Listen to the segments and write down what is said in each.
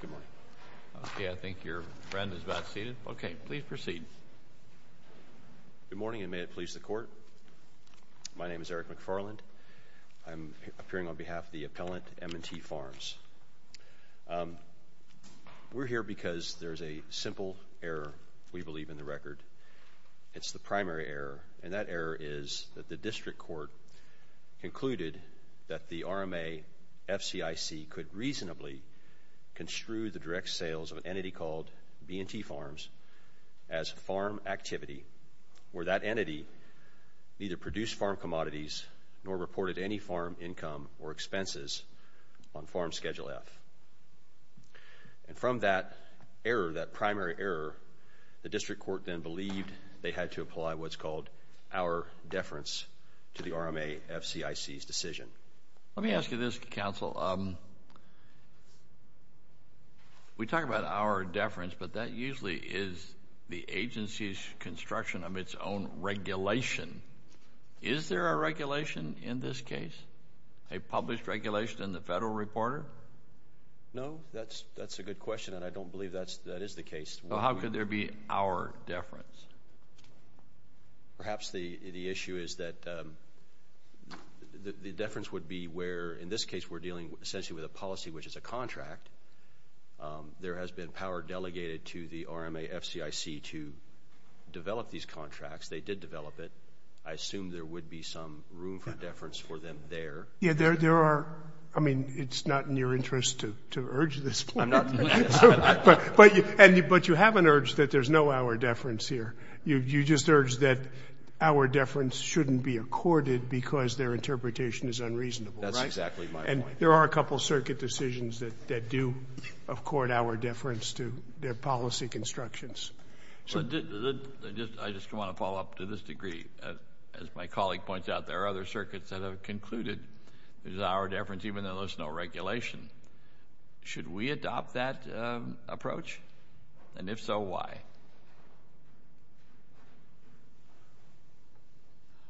Good morning. Okay, I think your friend is about seated. Okay, please proceed. Good morning and may it please the court. My name is Eric McFarland. I'm appearing on behalf of the appellant M & T Farms. We're here because there's a simple error, we believe in the record. It's the primary error and that error is that the district court concluded that the RMA FCIC could reasonably construe the direct sales of an entity called B & T Farms as farm activity where that entity neither produced farm commodities nor reported any farm income or expenses on farm schedule F. And from that error, that primary error, the district court then believed they had to apply what's called our deference to the RMA FCIC's decision. Let me ask you this, counsel. We talk about our deference, but that usually is the agency's construction of its own regulation. Is there a regulation in this case? A published regulation in the Federal Reporter? No, that's a good question and I don't believe that is the case. So how could there be our deference? Perhaps the issue is that the deference would be where in this case we're dealing essentially with a policy which is a contract. There has been power delegated to the RMA FCIC to develop these contracts. They did develop it. I assume there would be some room for deference for them there. Yeah, there are. I mean, it's not in your interest to urge this, but you have an urge that there's no our deference here. You just urge that our deference shouldn't be accorded because their interpretation is unreasonable. That's exactly my point. And there are a couple circuit decisions that do accord our deference to their policy constructions. I just want to follow up to this degree. As my colleague points out, there are other circuits that have concluded there's our deference even though there's no regulation. Should we adopt that approach? And if so, why?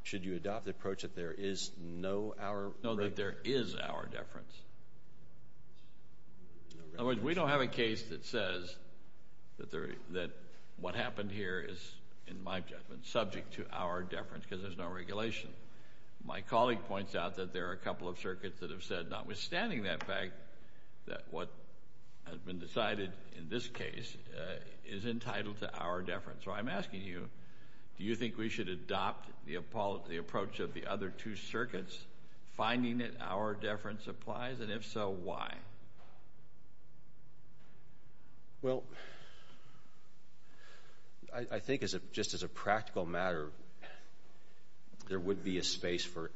Should you adopt the approach that there is no our deference? No, that there is our deference. In other words, we don't have a case that says that what happened here is, in my judgment, subject to our deference because there's no our deference. My colleague points out that there are a couple of circuits that have said, notwithstanding that fact, that what has been decided in this case is entitled to our deference. So I'm asking you, do you think we should adopt the approach of the other two circuits, finding that our deference applies? And if so, why? Well, I think just as a practical matter, there would be a space for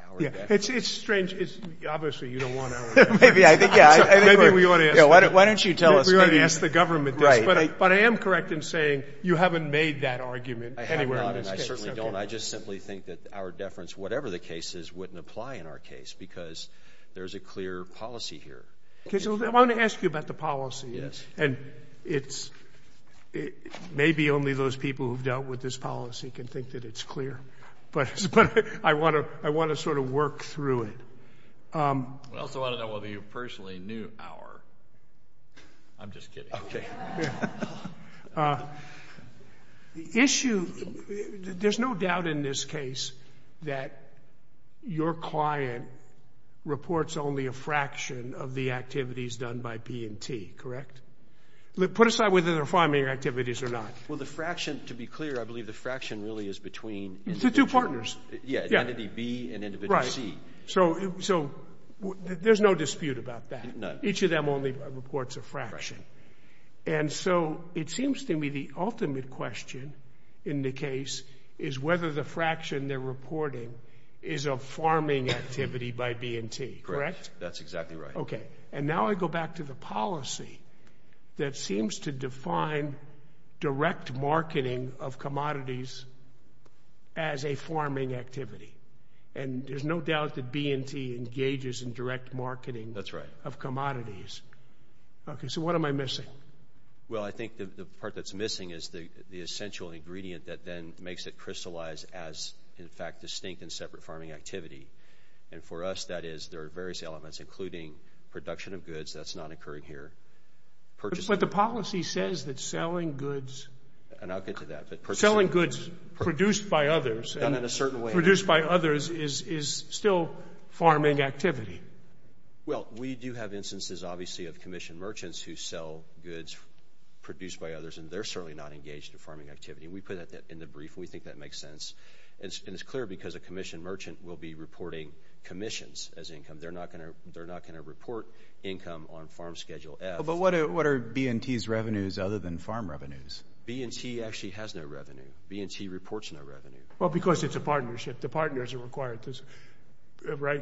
our deference. Yeah. It's strange. Obviously, you don't want our deference. Maybe I think, yeah. Maybe we ought to ask. Why don't you tell us? We ought to ask the government this. Right. But I am correct in saying you haven't made that argument anywhere in this case. I have not, and I certainly don't. I just simply think that our deference, whatever the case is, wouldn't apply in our case because there's a clear policy here. Okay. So I want to ask you about the policy. Yes. And it's maybe only those people who've dealt with this policy can think that it's clear. But I want to sort of work through it. I also want to know whether you personally knew our... I'm just kidding. Okay. The issue, there's no doubt in this case that your client reports only a fraction of the activities done by P&T, correct? Put aside whether they're primary activities or not. Well, the fraction, to be clear, I believe the fraction really is between... It's the two partners. Yeah. Entity B and individual C. Right. So there's no dispute about that. None. Each of them only reports a fraction. And so it seems to me the ultimate question in the case is whether the fraction they're reporting is a farming activity by B&T, correct? That's exactly right. Okay. And now I go back to the policy that seems to define direct marketing of commodities as a farming activity. And there's no doubt that B&T engages in direct marketing of commodities. That's right. Okay. So what am I missing? Well, I think the part that's missing is the essential ingredient that then makes it crystallize as in fact distinct and separate farming activity. And for us that is there are various elements including production of goods. That's not occurring here. But the policy says that selling goods... And I'll get to that. Selling goods produced by others... Done in a certain way. Produced by others is still farming activity. Well, we do have instances obviously of commissioned merchants who sell goods produced by others and they're certainly not engaged in farming activities. That makes sense. And it's clear because a commissioned merchant will be reporting commissions as income. They're not going to report income on farm schedule F. But what are B&T's revenues other than farm revenues? B&T actually has no revenue. B&T reports no revenue. Well, because it's a partnership. The partners are required to...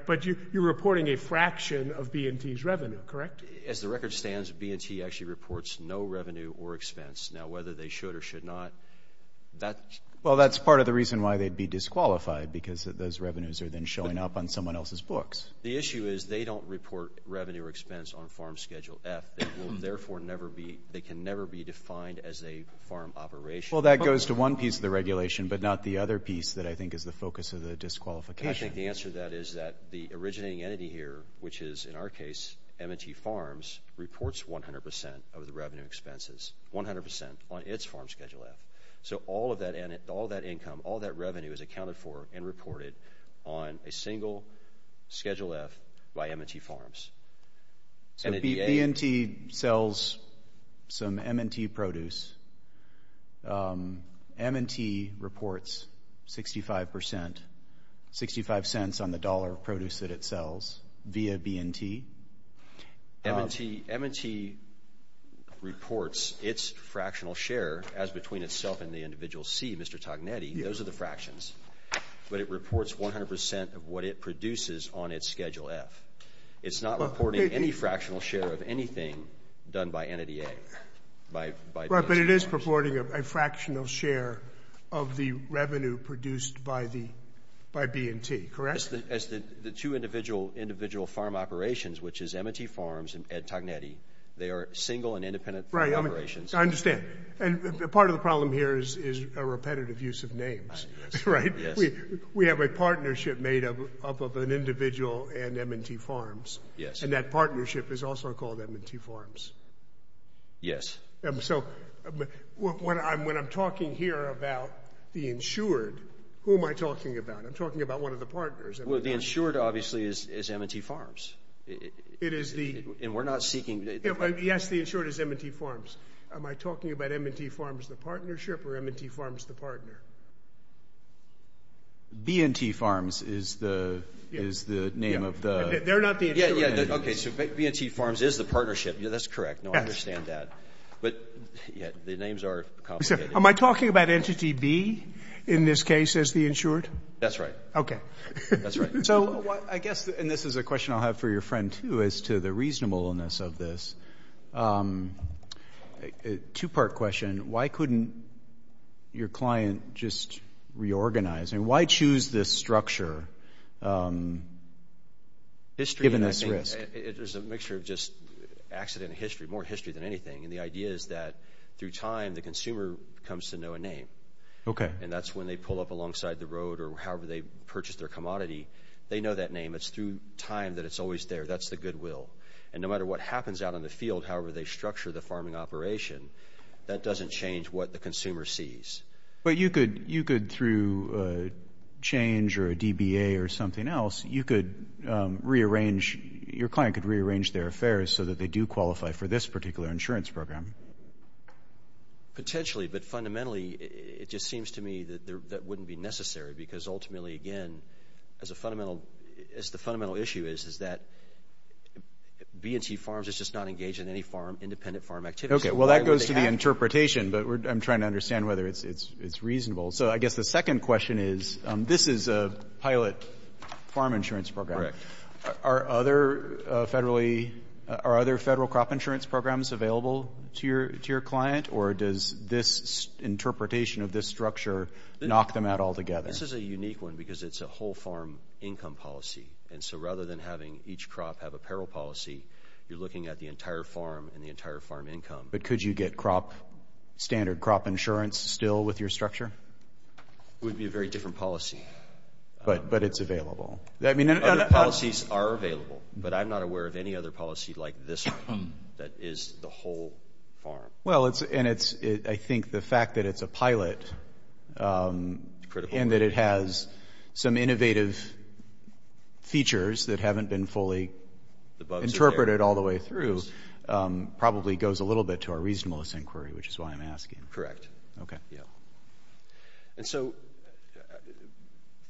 But you're reporting a fraction of B&T's revenue, correct? As the record stands, B&T actually reports no revenue or expense. Now whether they should or should not, that... Well, that's part of the reason why they'd be disqualified because those revenues are then showing up on someone else's books. The issue is they don't report revenue or expense on farm schedule F. They will therefore never be... They can never be defined as a farm operation. Well, that goes to one piece of the regulation but not the other piece that I think is the focus of the disqualification. I think the answer to that is that the originating entity here, which is in our case M&T Farms, reports 100% of the revenue expenses. 100% on its farm income. All that revenue is accounted for and reported on a single schedule F by M&T Farms. So B&T sells some M&T produce. M&T reports 65%, 65 cents on the dollar of produce that it sells via B&T? M&T reports its fractional share as between itself and the individual C, Mr. Tognetti. Those are the fractions. But it reports 100% of what it produces on its schedule F. It's not reporting any fractional share of anything done by entity A. But it is reporting a fractional share of the revenue produced by B&T, correct? As the two individual farm operations, which is M&T Farms and Ed Tognetti, they are single and independent farm operations. I understand. And part of the problem here is a repetitive use of names. We have a partnership made up of an individual and M&T Farms. And that partnership is also called M&T Farms. Yes. So when I'm talking here about the insured, who am I talking about? I'm talking about one of the partners. Well, the insured obviously is M&T Farms. And we're the insured is M&T Farms. Am I talking about M&T Farms, the partnership or M&T Farms, the partner? B&T Farms is the name of the... They're not the insured. Okay. So B&T Farms is the partnership. Yeah, that's correct. No, I understand that. But the names are complicated. Am I talking about entity B in this case as the insured? That's right. Okay. That's right. So I guess, and this is a question I'll have for your friend too, as to the reasonableness of this. A two-part question. Why couldn't your client just reorganize? And why choose this structure, given this risk? There's a mixture of just accident history, more history than anything. And the idea is that through time, the consumer comes to know a name. Okay. And that's when they pull up alongside the road or however they purchase their commodity, they know that name. It's through time that it's always there. That's the goodwill. And no matter what happens out in the field, however they structure the farming operation, that doesn't change what the consumer sees. But you could, through change or a DBA or something else, you could rearrange... Your client could rearrange their affairs so that they do qualify for this particular insurance program. Potentially, but fundamentally, it just seems to me that that wouldn't be necessary. Because ultimately, again, as the fundamental issue is, is that B&T Farms is just not engaged in any farm, independent farm activity. Okay. Well, that goes to the interpretation, but I'm trying to understand whether it's reasonable. So I guess the second question is, this is a pilot farm insurance program. Correct. Are other federal crop insurance programs available to your client? Or does this interpretation of this structure knock them out altogether? This is a unique one because it's a whole farm income policy. And so rather than having each crop have a peril policy, you're looking at the entire farm and the entire farm income. But could you get standard crop insurance still with your structure? It would be a very different policy. But it's available. Other policies are available, but I'm not aware of any other policy like this one that is the whole farm. Well, and I think the fact that it's a pilot... Critical... And that it has some innovative features that haven't been fully interpreted all the way through probably goes a little bit to our reasonableness inquiry, which is why I'm asking. Correct. And so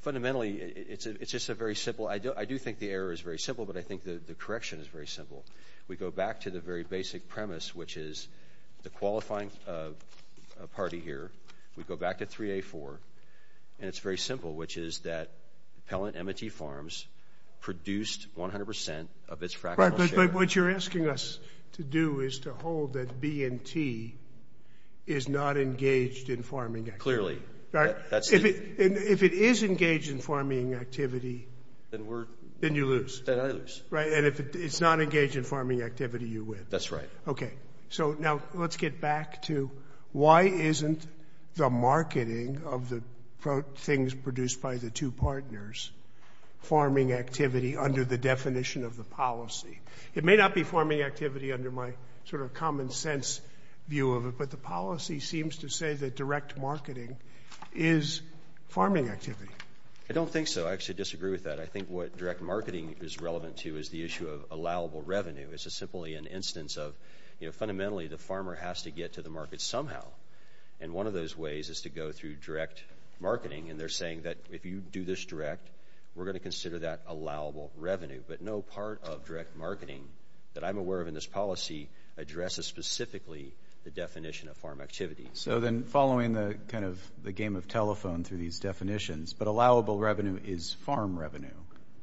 fundamentally, it's just a very simple... I do think the error is very simple, but I think the correction is very simple. We go back to the very basic premise, which is the simple, which is that Pellant M&T Farms produced 100% of its fractional share. But what you're asking us to do is to hold that B&T is not engaged in farming activity. Clearly. If it is engaged in farming activity, then you lose. Then I lose. Right. And if it's not engaged in farming activity, you win. That's right. Okay. So now let's get back to why isn't the activity produced by the two partners farming activity under the definition of the policy? It may not be farming activity under my sort of common sense view of it, but the policy seems to say that direct marketing is farming activity. I don't think so. I actually disagree with that. I think what direct marketing is relevant to is the issue of allowable revenue. It's simply an instance of, you know, fundamentally, the farmer has to get to the market somehow. And one of those ways is to go through direct marketing. And they're saying that if you do this direct, we're going to consider that allowable revenue. But no part of direct marketing that I'm aware of in this policy addresses specifically the definition of farm activity. So then following the kind of the game of telephone through these definitions, but allowable revenue is farm revenue.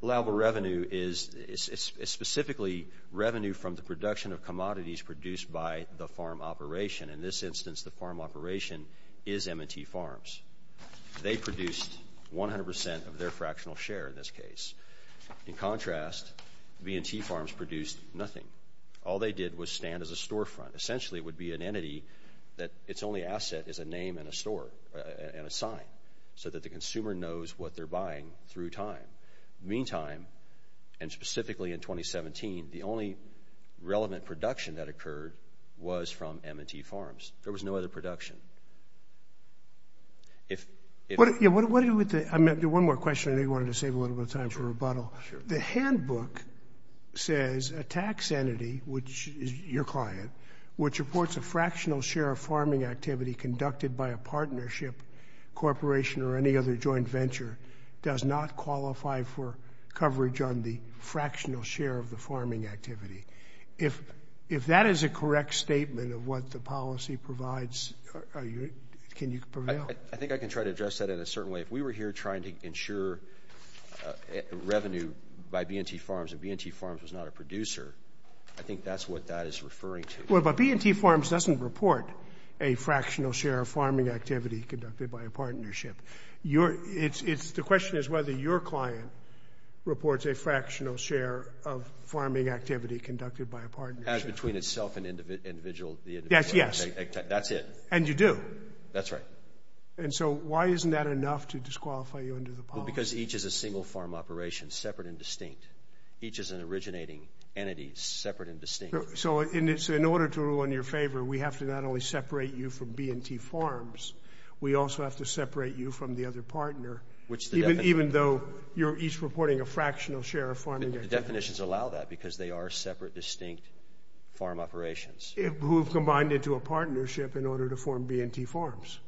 Allowable revenue is specifically revenue from the production of commodities produced by the farm operation. In this instance, the farm operation is M&T Farms. They produced 100% of their fractional share in this case. In contrast, B&T Farms produced nothing. All they did was stand as a storefront. Essentially, it would be an entity that its only asset is a name and a store and a sign so that the consumer knows what they're buying through time. Meantime, and specifically in 2017, the only relevant production that occurred was from M&T Farms. There was no other production. If you want to do one more question, I wanted to save a little bit of time for rebuttal. The handbook says a tax entity, which is your client, which reports a fractional share of farming activity conducted by a partnership, corporation or any other joint venture does not qualify for coverage on the fractional share of the farming activity. If that is a correct statement of what the policy provides, can you prevail? I think I can try to address that in a certain way. If we were here trying to ensure revenue by B&T Farms and B&T Farms was not a producer, I think that's what that is referring to. Well, but B&T Farms doesn't report a fractional share of farming activity conducted by a partnership. The question is whether your client reports a fractional share of farming activity conducted by a partnership. As between itself and the individual. Yes, yes. That's it. And you do. That's right. And so why isn't that enough to disqualify you under the policy? Because each is a single farm operation, separate and distinct. Each is an originating entity, separate and distinct. So in order to rule in your favor, we have to not only separate you from B&T Farms, we also have to separate you from the other partner, even though you're each reporting a fractional share of farming activity. The definitions allow that, because they are separate distinct farm operations. Who have combined into a partnership in order to form B&T Farms.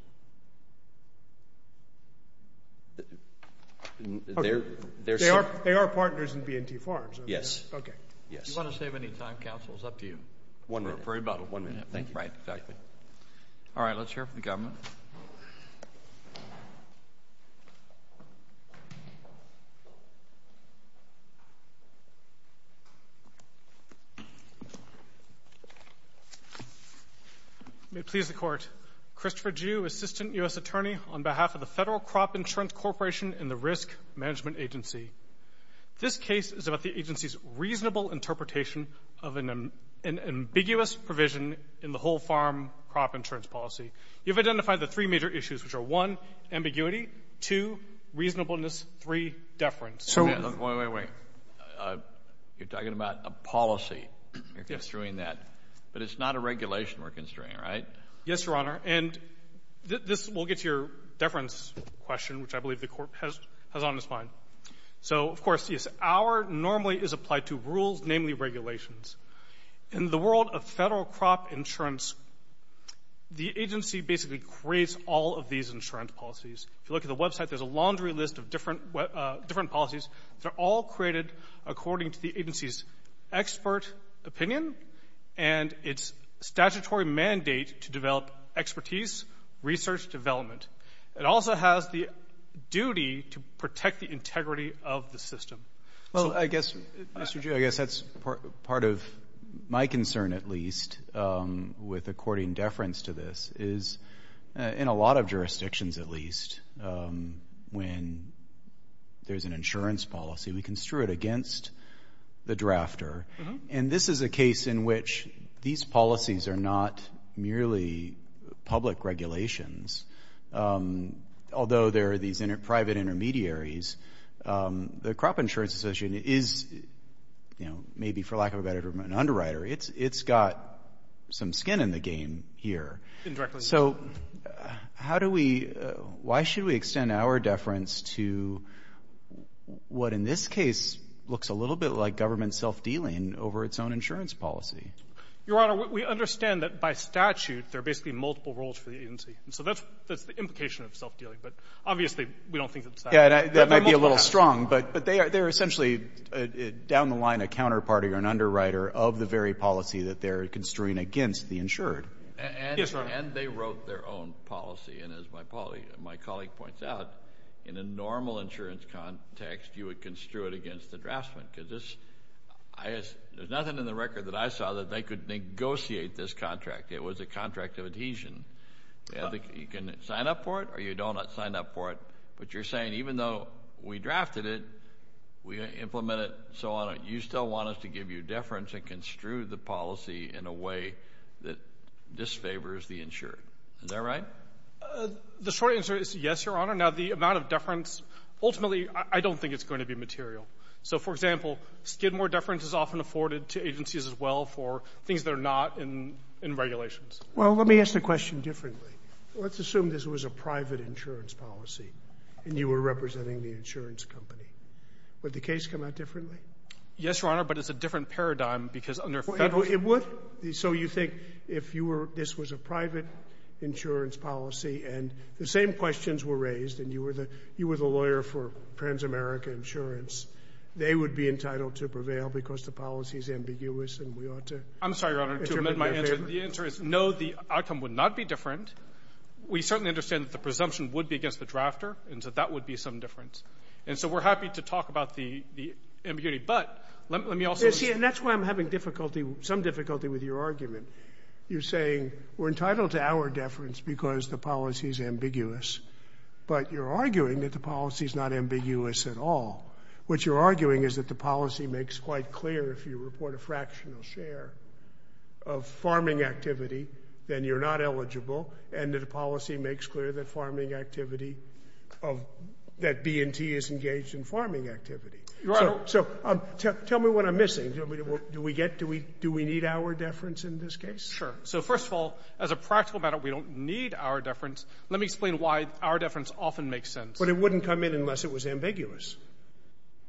They are partners in B&T Farms. Yes. Okay. Do you want to save any time, counsel? It's up to you. One minute. For about one minute. Thank you. Right, exactly. All right, let's move on. May it please the Court. Christopher Jue, Assistant U.S. Attorney on behalf of the Federal Crop Insurance Corporation and the Risk Management Agency. This case is about the agency's reasonable interpretation of an ambiguous provision in the whole farm crop insurance policy. You've identified the three major issues, which are, one, ambiguity, two, reasonableness, three, deference. Wait, wait, wait. You're talking about a policy. You're constraining that. But it's not a regulation we're constraining, right? Yes, Your Honor. And this will get to your deference question, which I believe the Court has on its mind. So of course, yes, our normally is applied to rules, namely regulations. In the world of federal crop insurance, the agency basically creates all of these insurance policies. If you look at the website, there's a laundry list of different policies. They're all created according to the agency's expert opinion and its statutory mandate to develop expertise, research development. It also has the duty to protect the integrity of the system. Well, I guess, Mr. G, I guess that's part of my concern, at least, with according deference to this is, in a lot of jurisdictions at least, when there's an insurance policy, we construe it against the drafter. And this is a case in which these policies are not merely public regulations. Although there are these private intermediaries, the Crop Insurance Association is, you know, maybe for lack of a better term, an underwriter. It's got some skin in the game here. So how do we, why should we extend our deference to what in this case looks a little bit like government self-dealing over its own insurance policy? Your Honor, we understand that by statute, there are basically multiple roles for the agency. And so that's the implication of self-dealing. But obviously, we don't think it's that. Yeah, that might be a little strong, but they are essentially, down the line, a counterparty or an underwriter of the very policy that they're construing against the insured. Yes, Your Honor. And they wrote their own policy. And as my colleague points out, in a normal insurance context, you would construe it against the draftsman. Because there's nothing in the record that I saw that they could negotiate this contract. It was a contract of adhesion. You can sign up for it, or you don't sign up for it. But you're saying, even though we drafted it, we implemented it, and so on, you still want us to give you deference and construe the policy in a way that disfavors the insured. Is that right? The short answer is yes, Your Honor. Now, the amount of deference, ultimately, I don't think it's going to be material. So, for example, skidmore deference is often afforded to agencies, as well, for things that are not in regulations. Well, let me ask the question differently. Let's assume this was a private insurance policy, and you were representing the insurance company. Would the case come out differently? Yes, Your Honor, but it's a different paradigm, because under federal— It would. So you think if this was a private insurance policy, and the same questions were raised, and you were the lawyer for Transamerica Insurance, they would be entitled to prevail because the policy is ambiguous, and we ought to— I'm sorry, Your Honor, to amend my answer. The answer is no, the outcome would not be different. We certainly understand that the presumption would be against the drafter, and so that would be some difference. And so we're happy to talk about the ambiguity, but let me also— You see, and that's why I'm having difficulty, some difficulty with your argument. You're saying, we're entitled to our deference because the policy is ambiguous, but you're arguing that the policy is not ambiguous at all. What you're arguing is that the policy makes quite clear if you report a fractional share of farming activity, then you're not eligible, and that the policy makes clear that farming activity— that B&T is engaged in farming activity. Your Honor— So tell me what I'm missing. Do we get— Do we need our deference in this case? Sure. So first of all, as a practical matter, we don't need our deference. Let me explain why our deference often makes sense. But it wouldn't come in unless it was ambiguous.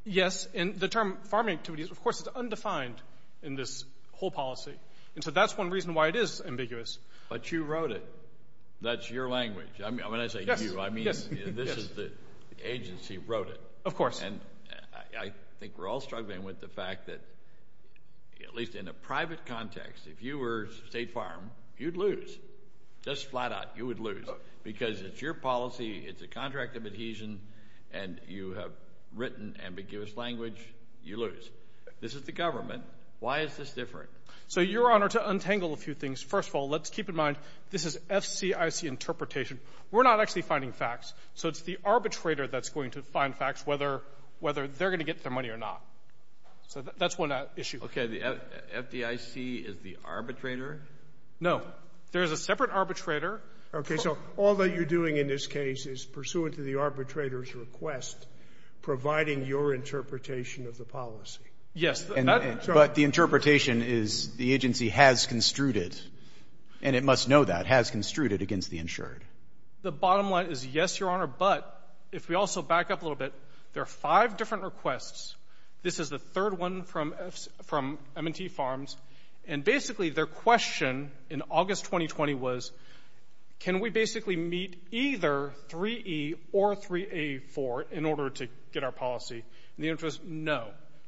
Yes, and the term farming activity, of course, is undefined in this whole policy, and so that's one reason why it is ambiguous. But you wrote it. That's your language. I mean, when I say you, I mean— Yes, yes. This is the agency who wrote it. Of course. And I think we're all struggling with the fact that, at least in a private context, if you were State Farm, you'd lose. Just flat out, you would lose. Because it's your policy, it's a contract of adhesion, and you have written ambiguous language, you lose. This is the government. Why is this different? So Your Honor, to untangle a few things, first of all, let's keep in mind, this is FDIC interpretation. We're not actually finding facts, so it's the arbitrator that's going to find facts, whether they're going to get their money or not. So that's one issue. Okay. The FDIC is the arbitrator? No. There's a separate arbitrator. Okay. So all that you're doing in this case is pursuant to the arbitrator's request, providing your interpretation of the policy. Yes. But the interpretation is the agency has construed it, and it must know that, has construed it against the insured. The bottom line is, yes, Your Honor, but if we also back up a little bit, there are five different requests. This is the third one from M&T Farms, and basically their question in August 2020 was, can we basically meet either 3E or 3A4 in order to get our policy? And the answer is no.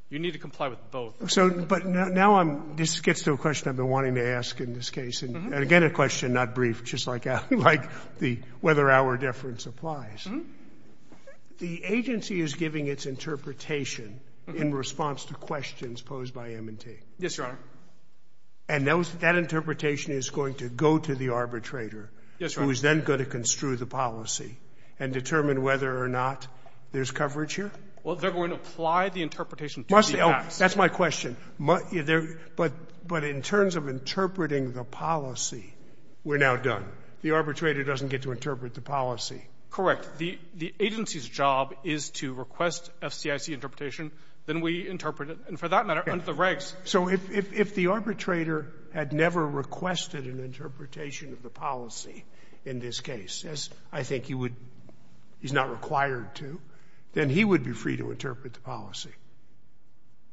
You need to comply with both. But now this gets to a question I've been wanting to ask in this case, and again, a question not brief, just like the whether our deference applies. The agency is giving its interpretation in response to questions posed by M&T. Yes, Your Honor. And that interpretation is going to go to the arbitrator, who is then going to construe the policy and determine whether or not there's coverage here? Well, they're going to apply the interpretation to the facts. That's my question. But in terms of interpreting the policy, we're now done. The arbitrator doesn't get to interpret the policy. Correct. The agency's job is to request FCIC interpretation. Then we interpret it, and for that matter, under the regs. So if the arbitrator had never requested an interpretation of the policy in this case, as I think you would — he's not required to, then he would be free to interpret the policy.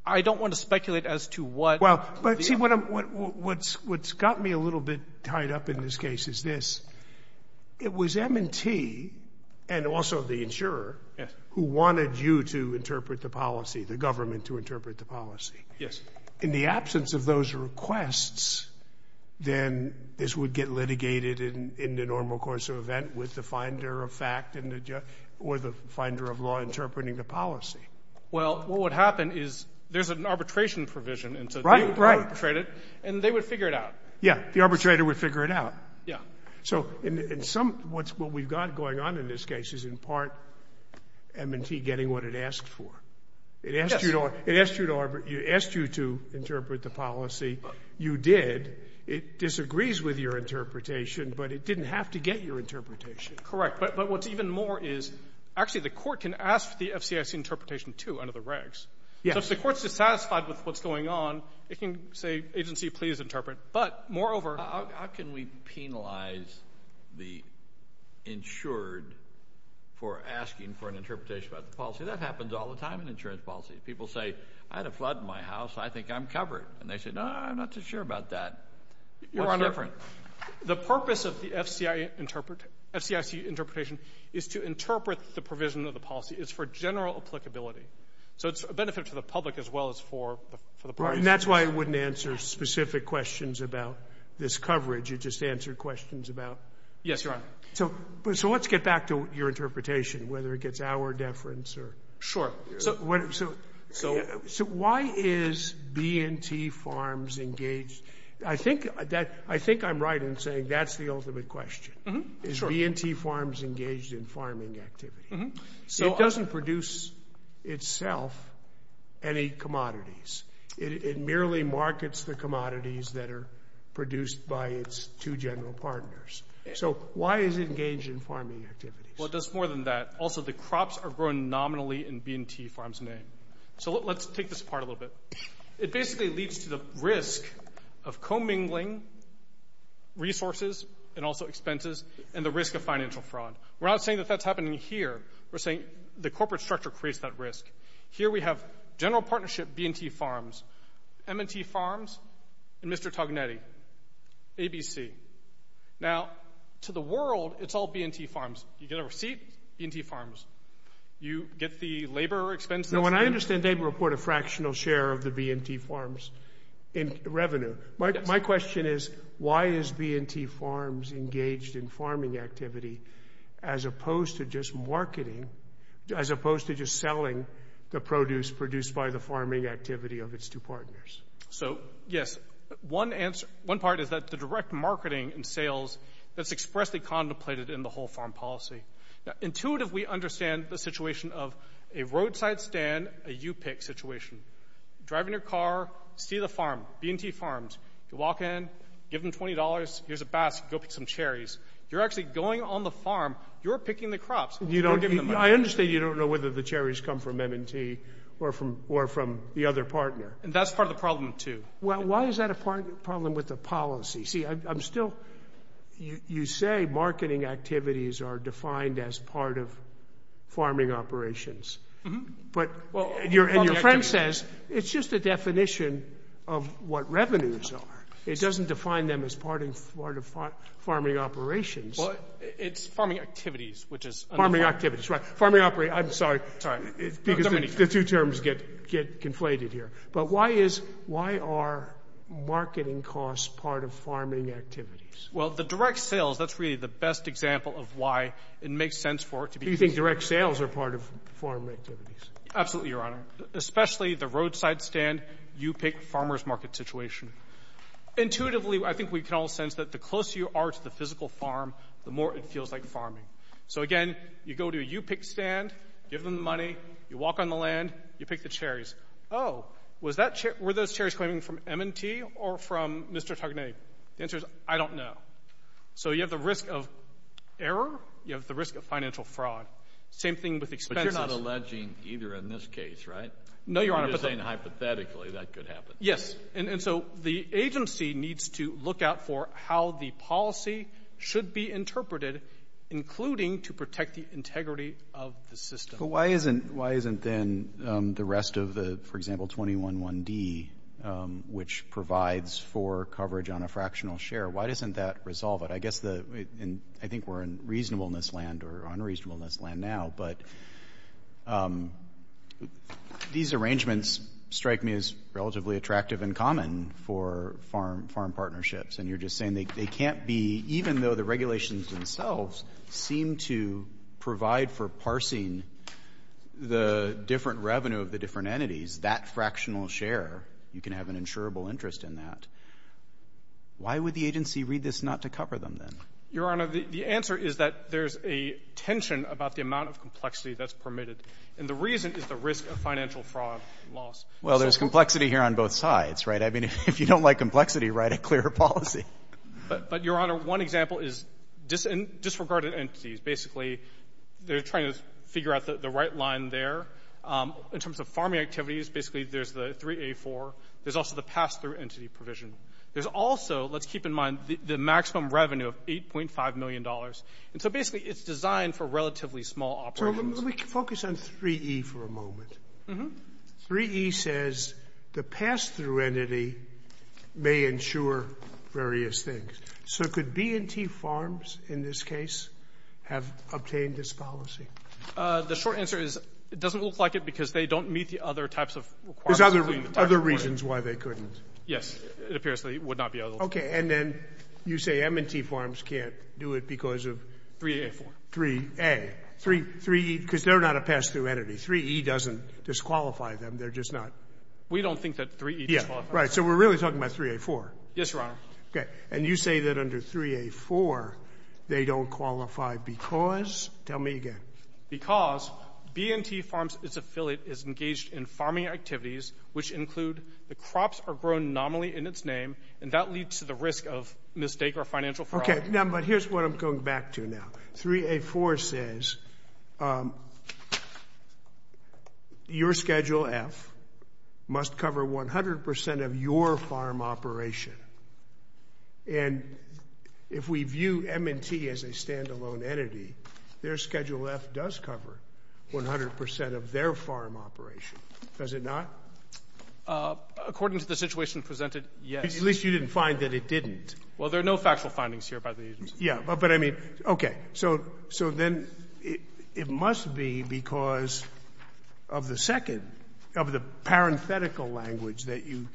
I don't want to speculate as to what the other — The agency, and also the insurer, who wanted you to interpret the policy, the government to interpret the policy, in the absence of those requests, then this would get litigated in the normal course of event with the finder of fact or the finder of law interpreting the policy. Well, what would happen is there's an arbitration provision, and so they would arbitrate it, and they would figure it out. Yeah. The arbitrator would figure it out. Yeah. So in some — what we've got going on in this case is, in part, M&T getting what it asked for. Yes. It asked you to — it asked you to interpret the policy. You did. It disagrees with your interpretation, but it didn't have to get your interpretation. Correct. But what's even more is, actually, the court can ask for the FCIC interpretation, too, under the regs. Yes. So if the court's dissatisfied with what's going on, it can say, agency, please interpret. But, moreover — How can we penalize the insured for asking for an interpretation about the policy? That happens all the time in insurance policy. People say, I had a flood in my house. I think I'm covered. And they say, no, I'm not too sure about that. What's different? The purpose of the FCIC interpretation is to interpret the provision of the policy. It's for general applicability. So it's a benefit to the public as well as for the parties. And that's why it wouldn't answer specific questions about this coverage. It just answered questions about — Yes, Your Honor. So let's get back to your interpretation, whether it gets our deference or — Sure. So why is B&T Farms engaged — I think that — I think I'm right in saying that's the ultimate question. Mm-hmm. Sure. Is B&T Farms engaged in farming activity? Mm-hmm. It doesn't produce itself any commodities. It merely markets the commodities that are produced by its two general partners. So why is it engaged in farming activities? Well, it does more than that. Also, the crops are grown nominally in B&T Farms' name. So let's take this apart a little bit. It basically leads to the risk of commingling resources and also expenses and the risk of financial fraud. We're not saying that that's happening here. We're saying the corporate structure creates that risk. Here we have general partnership B&T Farms, M&T Farms, and Mr. Tognetti, ABC. Now, to the world, it's all B&T Farms. You get a receipt, B&T Farms. You get the labor expense — No, and I understand they report a fractional share of the B&T Farms in revenue. My question is why is B&T Farms engaged in farming activity as opposed to just marketing, as opposed to just selling the produce produced by the farming activity of its two partners? So yes, one part is that the direct marketing and sales that's expressly contemplated in the whole farm policy. Intuitively, we understand the situation of a roadside stand, a you-pick situation. Drive in your car, see the farm, B&T Farms. You walk in, give them $20. Here's a basket. Go pick some cherries. You're actually going on the farm. You're picking the crops. You don't give them money. I understand you don't know whether the cherries come from M&T or from the other partner. And that's part of the problem, too. Well, why is that a problem with the policy? See, I'm still — you say marketing activities are defined as part of farming operations. Mm-hmm. But — Well — And your friend says it's just a definition of what revenues are. It doesn't define them as part of farming operations. Well, it's farming activities, which is — Farming activities, right. Farming — I'm sorry. It's all right. Because the two terms get conflated here. But why is — why are marketing costs part of farming activities? Well, the direct sales, that's really the best example of why it makes sense for it to be — Do you think direct sales are part of farm activities? Absolutely, Your Honor. Especially the roadside stand, you pick farmer's market situation. Intuitively, I think we can all sense that the closer you are to the physical farm, the more it feels like farming. So again, you go to a you-pick stand, give them the money, you walk on the land, you pick the cherries. Oh, was that — were those cherries coming from M&T or from Mr. Tognetti? The answer is, I don't know. So you have the risk of error. You have the risk of financial fraud. Same thing with expenses. But you're not alleging either in this case, right? No, Your Honor. But you're saying hypothetically that could happen. Yes. And so the agency needs to look out for how the policy should be interpreted, including to protect the integrity of the system. But why isn't then the rest of the — for example, 211D, which provides for coverage on a fractional share, why doesn't that resolve it? I guess the — and I think we're in reasonableness land or unreasonableness land now, but these arrangements strike me as relatively attractive and common for farm partnerships. And you're just saying they can't be — even though the regulations themselves seem to provide for parsing the different revenue of the different entities, that fractional share, you can have an insurable interest in that. Why would the agency read this not to cover them, then? Your Honor, the answer is that there's a tension about the amount of complexity that's permitted. And the reason is the risk of financial fraud and loss. Well, there's complexity here on both sides, right? I mean, if you don't like complexity, write a clearer policy. But, Your Honor, one example is disregarded entities. Basically, they're trying to figure out the right line there. In terms of farming activities, basically, there's the 3A4. There's also the pass-through entity provision. There's also — let's keep in mind the maximum revenue of $8.5 million. And so basically, it's designed for relatively small operations. Let me focus on 3E for a moment. Mm-hmm. 3E says the pass-through entity may ensure various things. So could B&T Farms, in this case, have obtained this policy? The short answer is it doesn't look like it because they don't meet the other types of requirements. There's other reasons why they couldn't. Yes. It appears that it would not be eligible. OK. And then you say M&T Farms can't do it because of — 3A4. 3A. 3E — because they're not a pass-through entity. 3E doesn't disqualify them. They're just not — We don't think that 3E disqualifies them. Yeah. Right. So we're really talking about 3A4. Yes, Your Honor. OK. And you say that under 3A4, they don't qualify because — tell me again. Because B&T Farms, its affiliate, is engaged in farming activities, which include the crops are grown nominally in its name, and that leads to the risk of mistake or financial fraud. OK. But here's what I'm going back to now. 3A4 says your Schedule F must cover 100 percent of your farm operation. And if we view M&T as a standalone entity, their Schedule F does cover 100 percent of their farm operation. Does it not? According to the situation presented, yes. At least you didn't find that it didn't. Well, there are no factual findings here by the agency. Yeah. But I mean — OK. So then it must be because of the second — of the parenthetical language that you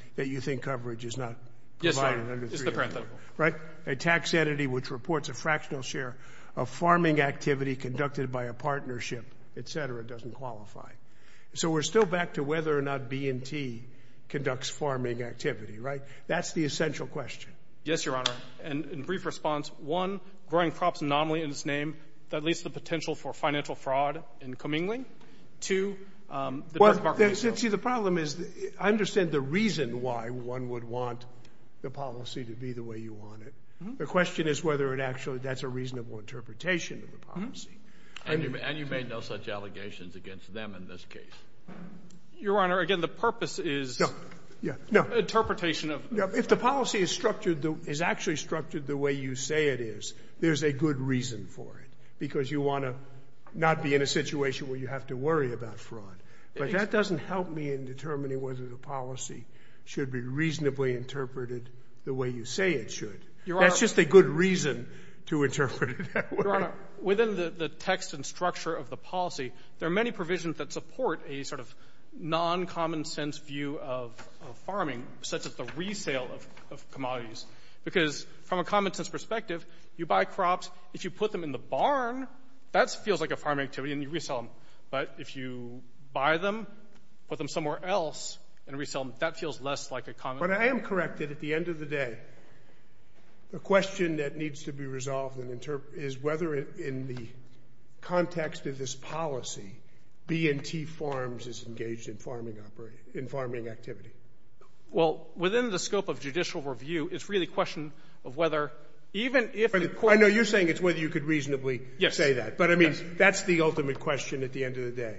think coverage is not provided under 3A4. Yes, Your Honor. Just the parenthetical. Right? A tax entity which reports a fractional share of farming activity conducted by a partnership, et cetera, doesn't qualify. So we're still back to whether or not B&T conducts farming activity, right? That's the essential question. Yes, Your Honor. And in brief response, one, growing crops anomaly in its name, that leaves the potential for financial fraud and comingling. Two, the direct market — Well, see, the problem is I understand the reason why one would want the policy to be the way you want it. The question is whether it actually — that's a reasonable interpretation of the policy. And you made no such allegations against them in this case. Your Honor, again, the purpose is — No. Yeah. No. — interpretation of — If the policy is structured — is actually structured the way you say it is, there's a good reason for it, because you want to not be in a situation where you have to worry about fraud. But that doesn't help me in determining whether the policy should be reasonably interpreted the way you say it should. Your Honor — That's just a good reason to interpret it that way. Your Honor, within the text and structure of the policy, there are many provisions that support a sort of non-common-sense view of farming, such as the resale of commodities. Because from a common-sense perspective, you buy crops. If you put them in the barn, that feels like a farming activity, and you resell them. But if you buy them, put them somewhere else, and resell them, that feels less like a common-sense — But I am corrected at the end of the day. The question that needs to be resolved and is engaged in farming activity. Well, within the scope of judicial review, it's really a question of whether, even if the court — I know you're saying it's whether you could reasonably say that. Yes. But I mean, that's the ultimate question at the end of the day.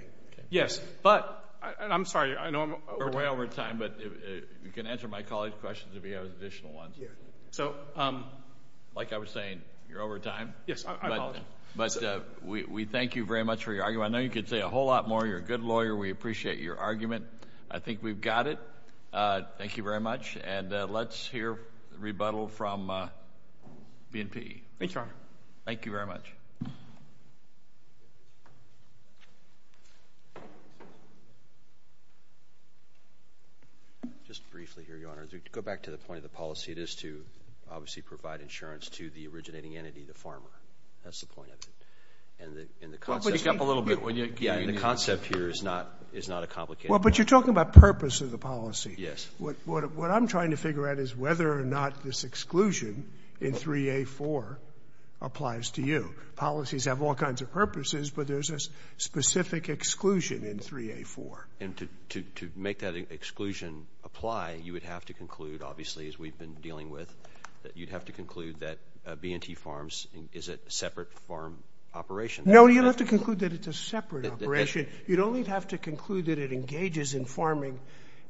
Yes. But — and I'm sorry, I know we're way over time, but you can answer my colleague's questions if you have additional ones. Yeah. So — Like I was saying, you're over time. Yes, I apologize. But we thank you very much for your argument. I know you could say a whole lot more. You're a good lawyer. We appreciate your argument. I think we've got it. Thank you very much. And let's hear a rebuttal from BNP. Thank you, Your Honor. Thank you very much. Just briefly here, Your Honor, to go back to the point of the policy, it is to obviously provide insurance to the originating entity, the farmer. That's the point of it. And the concept — Why don't you speak up a little bit? Yeah, and the concept here is not a complicated one. Well, but you're talking about purpose of the policy. Yes. What I'm trying to figure out is whether or not this exclusion in 3A4 applies to you. Policies have all kinds of purposes, but there's a specific exclusion in 3A4. And to make that exclusion apply, you would have to conclude, obviously, as we've been dealing with, that you'd have to conclude that B&T Farms is a separate farm operation. No, you'd have to conclude that it's a separate operation. You'd only have to conclude that it engages in farming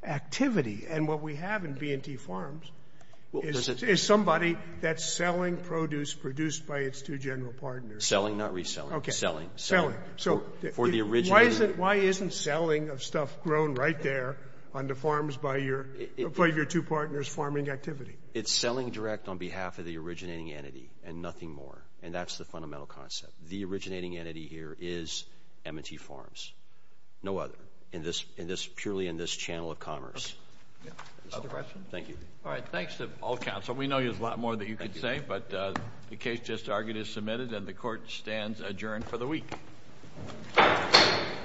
activity. And what we have in B&T Farms is somebody that's selling produce produced by its two general partners. Selling, not reselling. Okay. Selling. Selling. So — For the original — It's selling direct on behalf of the originating entity and nothing more. And that's the fundamental concept. The originating entity here is B&T Farms. No other. In this — purely in this channel of commerce. Okay. Other questions? Thank you. All right. Thanks to all counsel. We know there's a lot more that you could say, but the case just argued is submitted and the Court stands adjourned for the week.